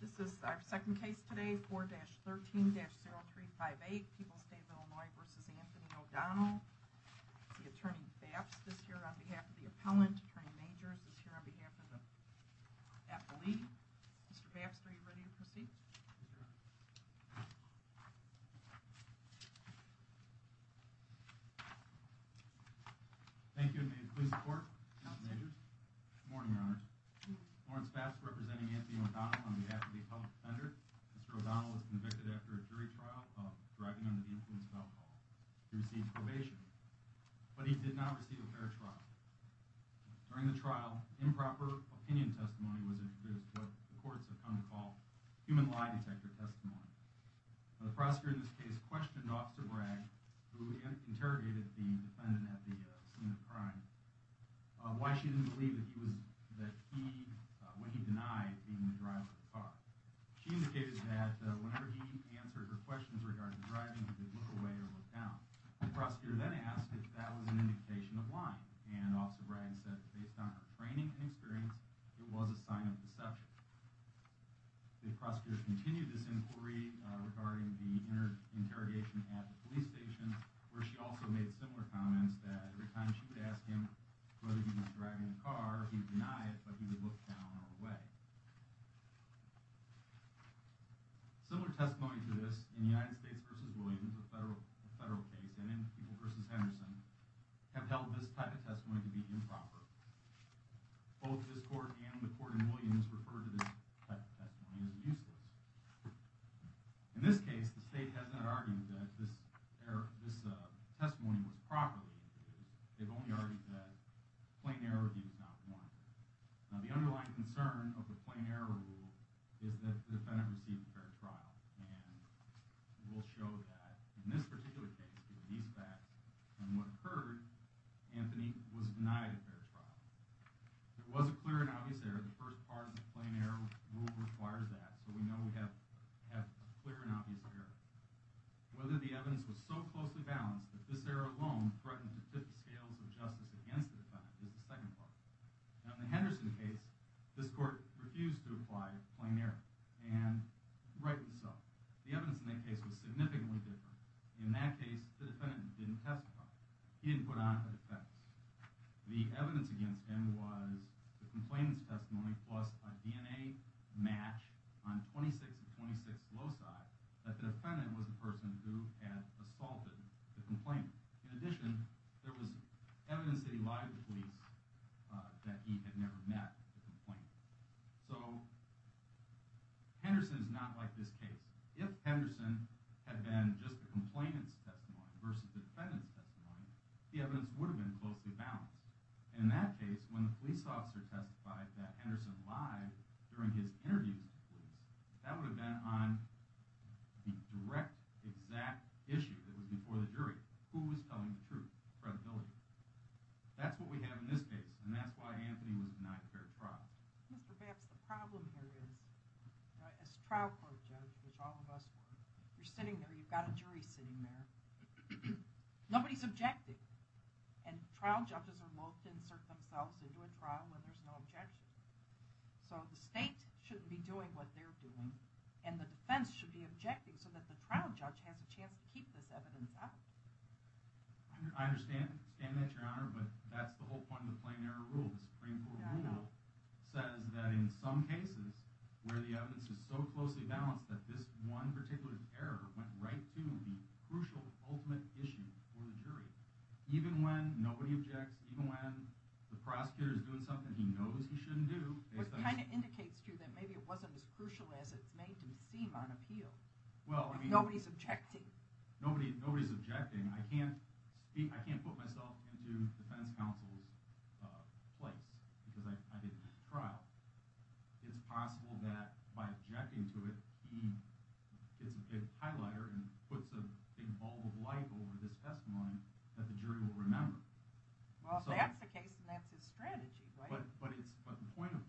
This is our second case today 4-13-0358 People's State of Illinois v. Anthony O'Donnell. The attorney Bapst is here on behalf of the appellant. Attorney Majors is here on behalf of the appellee. Mr. Bapst, are you ready to proceed? Thank you and may it please the court, Mr. Majors. Good morning, your honors. Lawrence Bapst representing Anthony O'Donnell on behalf of the appellate defender. Mr. O'Donnell was convicted after a jury trial of drugging under the influence of alcohol. He received probation, but he did not receive a fair trial. During the trial, improper opinion testimony was introduced, what the courts have come to call human lie detector testimony. The prosecutor in this case questioned Officer Bragg, who interrogated the defendant at the scene of the crime, why she didn't believe when he denied being the driver of the car. She indicated that whenever he answered her questions regarding the driving, he would look away or look down. The prosecutor then asked if that was an indication of lying, and Officer Bragg said based on her training and experience, it was a sign of deception. The prosecutor continued this inquiry regarding the interrogation at the police station, where she also made similar comments that every time she would ask him whether he was driving the car, he would deny it, but he would look down or away. Similar testimony to this, in the United States v. Williams, a federal case, and in People v. Henderson, have held this type of testimony to be improper. Both this court and the court in Williams refer to this type of testimony as useless. In this case, the state has not argued that this testimony was properly used. They've only argued that plain error review is not warranted. Now the underlying concern of the plain error rule is that the defendant received a fair trial, and we'll show that in this particular case, given these facts and what occurred, Anthony was denied a fair trial. There was a clear and obvious error. The first part of the plain error rule requires that, so we know we have clear and obvious error. Whether the evidence was so closely balanced that this error alone threatened to tip the scales of justice against the defendant is the second part. Now in the Henderson case, this court refused to apply plain error, and rightly so. The evidence in that case was significantly different. In that case, the defendant didn't testify. He didn't put on a defense. The evidence against him was the complainant's testimony plus a DNA match on 26th and 26th loci that the defendant was the person who had assaulted the complainant. In addition, there was evidence that he lied to the police that he had never met the complainant. So Henderson is not like this case. If Henderson had been just the complainant's testimony versus the defendant's testimony, the evidence would have been closely balanced. In that case, when the police officer testified that Henderson lied during his interviews with the police, that would have been on the direct, exact issue that was before the jury. Who was telling the truth? The credibility. That's what we have in this case, and that's why Anthony was denied a fair trial. Mr. Baps, the problem here is, as a trial court judge, which all of us were, you're sitting there, you've got a jury sitting there, nobody's objecting, and trial judges are insert themselves into a trial where there's no objection. So the state shouldn't be doing what they're doing, and the defense should be objecting so that the trial judge has a chance to keep this evidence out. I understand that, Your Honor, but that's the whole point of the plain error rule. The Supreme Court rule says that in some cases where the evidence is so closely balanced that this one particular error went right to the crucial, ultimate issue for the jury. Even when the prosecutor is doing something he knows he shouldn't do. It kind of indicates to you that maybe it wasn't as crucial as it's made to seem on appeal. Nobody's objecting. Nobody's objecting. I can't put myself into the defense counsel's place because I didn't do the trial. It's possible that by objecting to it, he gets a big highlighter and puts a big bulb of light over this testimony that the jury will remember. Well if that's the case, then that's his strategy, right? But the point of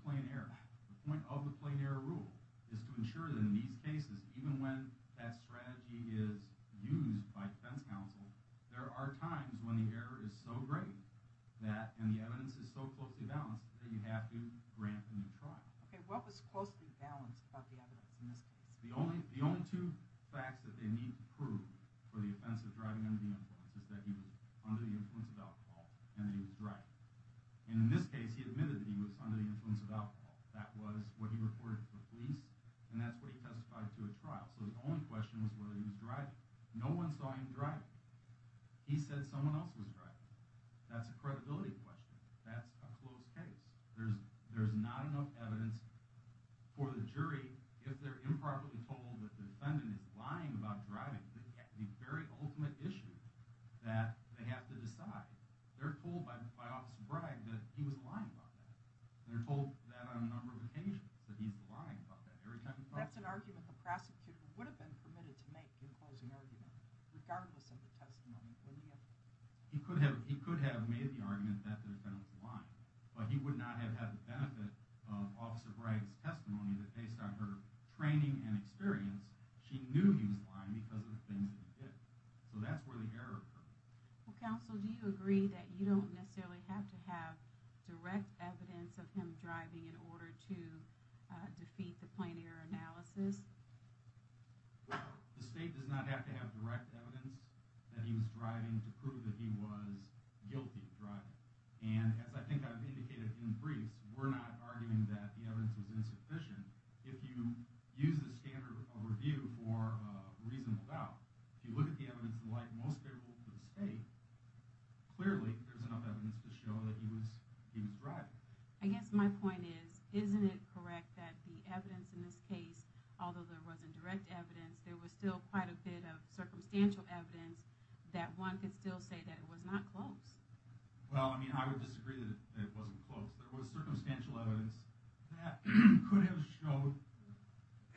the plain error rule is to ensure that in these cases, even when that strategy is used by defense counsel, there are times when the error is so great and the evidence is so closely balanced that you have to grant a new trial. Okay, what was closely balanced about the evidence in this case? The only two facts that they need to prove for the offense of driving under the influence is that he was under the influence of alcohol and that he was driving. And in this case, he admitted that he was under the influence of alcohol. That was what he reported to the police and that's what he testified to at trial. So the only question was whether he was driving. No one saw him driving. He said someone else was driving. That's a credibility question. That's a closed case. There's not enough evidence for the jury if they're improperly told that the defendant is lying about driving. That's the very ultimate issue that they have to decide. They're told by Officer Bragg that he was lying about that. They're told that on a number of occasions that he's lying about that every time. That's an argument the prosecutor would have been permitted to make in closing argument, regardless of the testimony, wouldn't he have? He could have made the argument that the defendant was lying, but he would not have had the benefit of Officer Bragg's she knew he was lying because of the things that he did. So that's where the error occurred. Well, counsel, do you agree that you don't necessarily have to have direct evidence of him driving in order to defeat the plain error analysis? The state does not have to have direct evidence that he was driving to prove that he was guilty of driving. And as I think I've indicated in briefs, we're not arguing that the evidence was insufficient. If you use the standard of review for a reasonable doubt, if you look at the evidence and like most people in the state, clearly there's enough evidence to show that he was he was driving. I guess my point is, isn't it correct that the evidence in this case, although there wasn't direct evidence, there was still quite a bit of circumstantial evidence that one could still say that it was not close? Well, I mean, I would disagree that it wasn't close. There was circumstantial evidence that could have showed,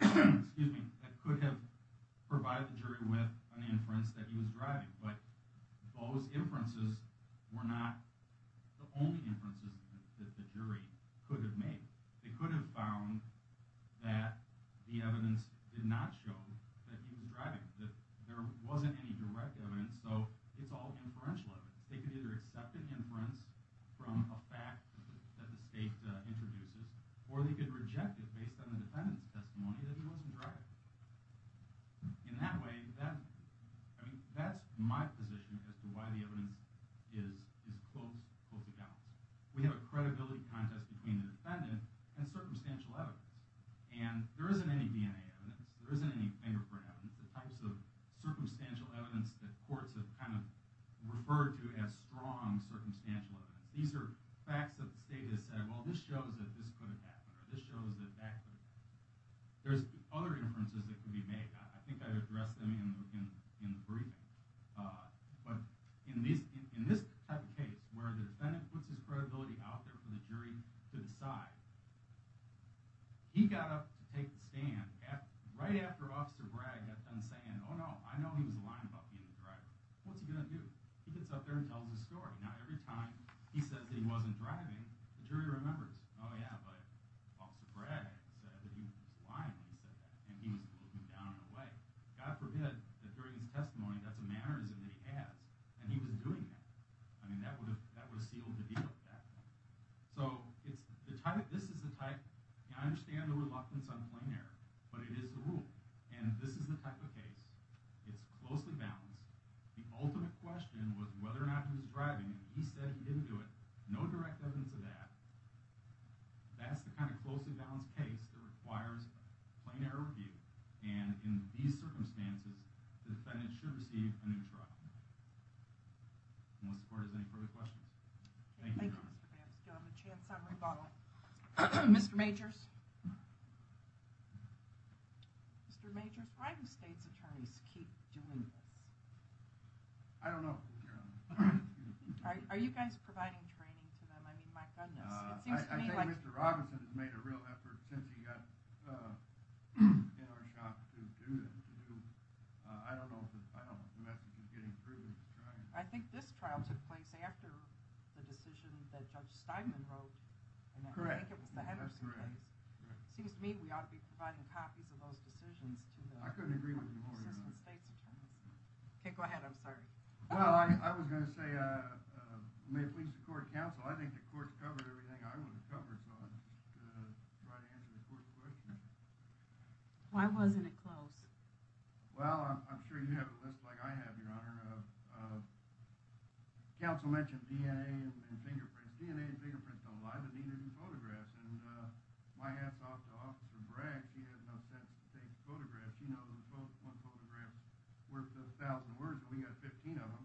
excuse me, that could have provided the jury with an inference that he was driving. But those inferences were not the only inferences that the jury could have made. They could have found that the evidence did not show that he was driving, that there wasn't any direct evidence. So it's all inferential evidence. They could either accept an inference from a fact that the state introduces, or they could reject it based on the defendant's testimony that he wasn't driving. In that way, that, I mean, that's my position as to why the evidence is is close, close accounts. We have a credibility contest between the defendant and circumstantial evidence. And there isn't any DNA evidence, there isn't any fingerprint evidence, the types of circumstantial evidence that courts have kind of referred to as strong circumstantial evidence. These are facts that the state has said, well, this shows that this could have happened, or this shows that that could have happened. There's other inferences that could be made. I think I addressed them in the briefing. But in this type of case, where the defendant puts his credibility out there for the jury to decide, he got up to take the stand right after Officer Bragg had done saying, oh no, I know he was lying about being the driver. What's he going to do? He gets up there and tells his story. Now every time he says that he wasn't driving, the jury remembers, oh yeah, but Officer Bragg said that he was lying when he said that, and he was looking down in a way. God forbid that during his testimony, that's a mannerism that he has, and he was doing that. I mean, that would have, that would have sealed the deal with that. So it's the type, this is the type, I understand reluctance on plain error, but it is the rule, and this is the type of case, it's closely balanced. The ultimate question was whether or not he was driving, and he said he didn't do it. No direct evidence of that. That's the kind of closely balanced case that requires plain error review, and in these circumstances, the defendant should receive a new trial. Unless the court has any further questions. Thank you. Mr. Banks, do I have a chance on rebuttal? Mr. Majors? Mr. Majors, why do state's attorneys keep doing this? I don't know. Are you guys providing training to them? I mean, my goodness. I think Mr. Robinson has made a real effort since he got in our shop to do this. I don't know if the message is getting through. I think this trial took place after the decision that Judge Steinman wrote, and I think it was the Henderson case. Seems to me we ought to be providing copies of those decisions to the assistant state's attorneys. I couldn't agree with you more. Okay, go ahead, I'm sorry. Well, I was going to say, may it please the court and counsel, I think the court's covered everything I want to cover, so I'm just going to try to answer the court's questions. Why wasn't it close? Well, I'm sure you have a list like I have, your honor. Counsel mentioned DNA and fingerprints. DNA and fingerprints don't lie, but neither do photographs, and my hat's off to Officer Bragg. She has no sense to take photographs. You know, one photograph's worth a thousand words, and we got 15 of them.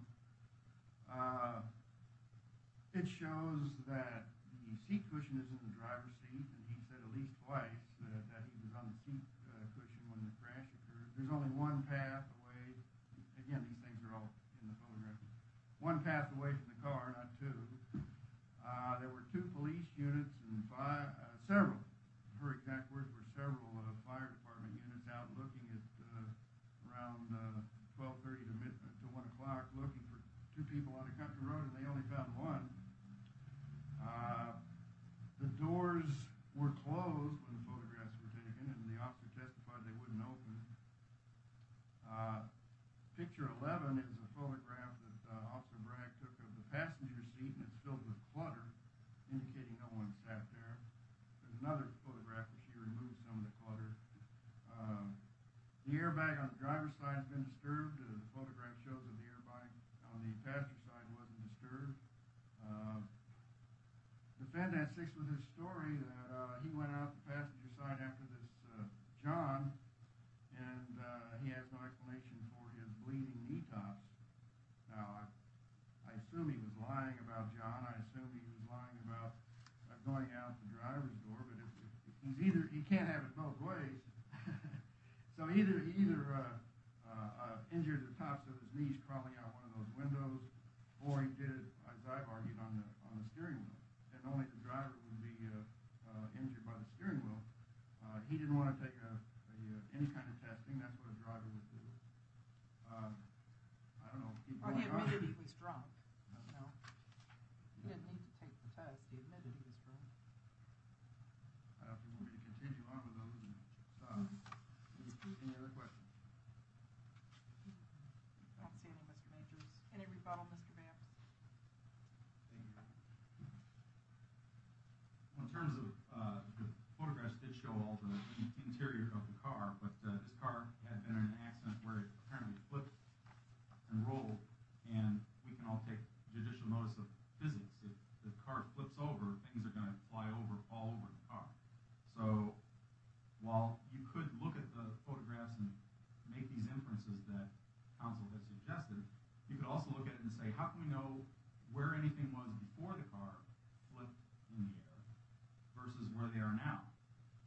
It shows that the seat cushion is in the driver's seat, and he said at least twice that he was on the seat cushion when the crash occurred. There's only one path away. Again, these things are all in the photograph. One path away from the car, not two. There were two police units and several, for exact words, were several fire department units out looking at around 12 30 to one o'clock, looking for two people on the country road, and they only found one. The doors were closed when photographs were taken, and the officer testified they wouldn't open. Picture 11 is a photograph that Officer Bragg took of the passenger seat, and it's filled with clutter, indicating no one sat there. There's another photograph where she removed some of the clutter. The airbag on the driver's side has been disturbed. The photograph shows that the airbag on the passenger side wasn't disturbed. The defendant has fixed with his story that he went out the passenger side after this John, and he has no explanation for his bleeding knee tops. Now, I assume he was lying about John. I assume he was lying about going out the driver's door, but he can't have it both ways. So, he either injured the tops of his knees crawling out one of those windows, or he did, as I've argued, on the on the steering wheel, and only the driver would be injured by the steering wheel. He didn't want to take any kind of testing. That's what a driver would do. I don't know. He admitted he was drunk. He didn't need to take the test. He admitted he was drunk. I don't think we're going to continue on with those. I don't see any, Mr. Majors. Any rebuttal, Mr. Banff? Thank you. In terms of the photographs that show all the interior of the car, but this car had been in an accident where it apparently flipped and rolled, and we can all take judicial notice of physics. If the car flips over, things are going to fly over all over the car. So, while you could look at the photographs and make these inferences that counsel has suggested, you could also look at it and say, how can we know where anything was before the car flipped in the air versus where they are now?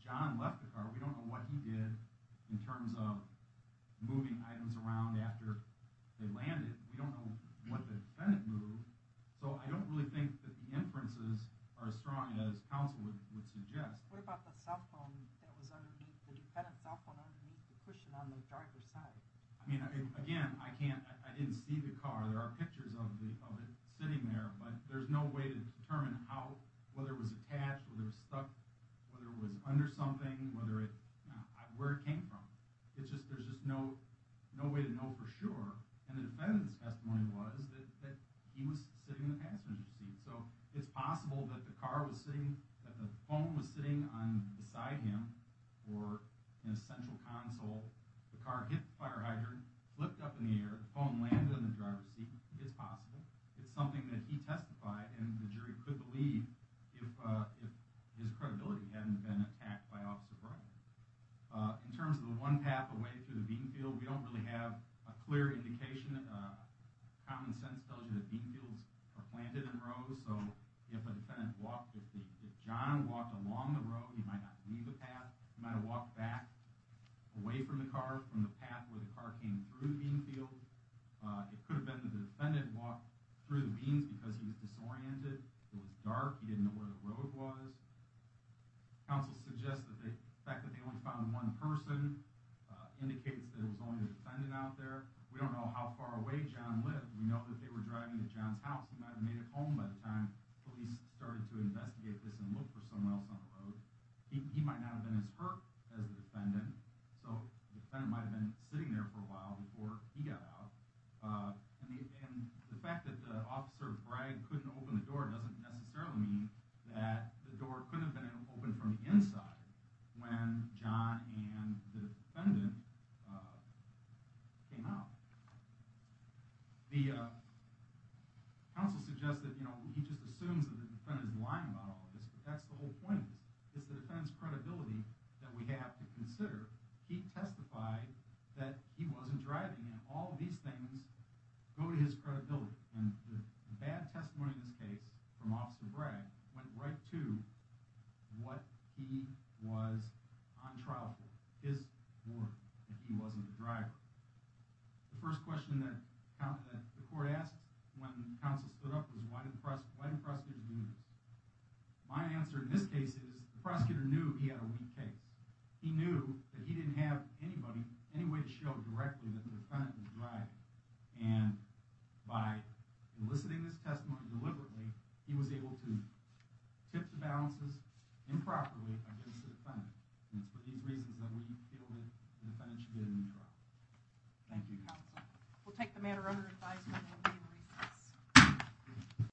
John left the car. We don't know what he did in terms of moving items around after they landed. We don't know what the defendant moved. So, I don't really think that the inferences are as strong as counsel would suggest. What about the cell phone that was underneath, the defendant's cell phone underneath the cushion on the driver's side? I mean, again, I can't, I didn't see the car. There are pictures of it sitting there, but there's no way to determine how, whether it was attached, whether it was stuck, whether it was under something, whether it, where it came from. It's just, there's just no way to know for sure. And the defendant's testimony was that he was sitting in the passenger seat. So, it's possible that the car was sitting, that the phone was sitting on beside him or in a central console. The car hit the fire hydrant, flipped up in the air, the phone landed in the driver's seat. It's possible. It's something that he testified and the jury could believe if his credibility hadn't been attacked by Officer Brown. In terms of the one path away through the bean field, we don't really have a clear indication. Common sense tells you that bean fields are planted in rows, so if a defendant walked, if John walked along the road, he might not leave the path. He might have walked back away from the car, from the path where the car came through the bean field. It could have been that the defendant walked through the beans because he was disoriented. It was dark. He didn't know where the road was. Counsel suggests that the fact that they only found one person indicates that it was only a defendant out there. We don't know how far away John lived. We know that they were driving to John's house. He might have made it home by the time police started to investigate this and look for someone else on the road. He might not have been as hurt as the defendant, so the defendant might have been sitting there for a while before he got out. And the fact that Officer Bragg couldn't open the door doesn't necessarily mean that the door couldn't have been open from the inside when John and the defendant came out. The counsel suggests that he just assumes that the defendant is lying about all of this, but that's the whole point. It's the defendant's credibility that we have to consider. He testified that he wasn't driving, and all of these things go to his credibility. And the bad testimony in this case from Officer Bragg went right to what he was on trial for. His warning that he wasn't the driver. The first question that the court asked when counsel stood up was, why didn't prosecutors do this? My answer in this case is the prosecutor knew he had a weak case. He knew that he didn't have any way to show directly that the defendant was driving. And by enlisting this testimony deliberately, he was able to tip the balances improperly against the defendant. And it's for these reasons that we feel that the defendant should get a new trial. Thank you, counsel. We'll take the matter under advice when we'll be in recess.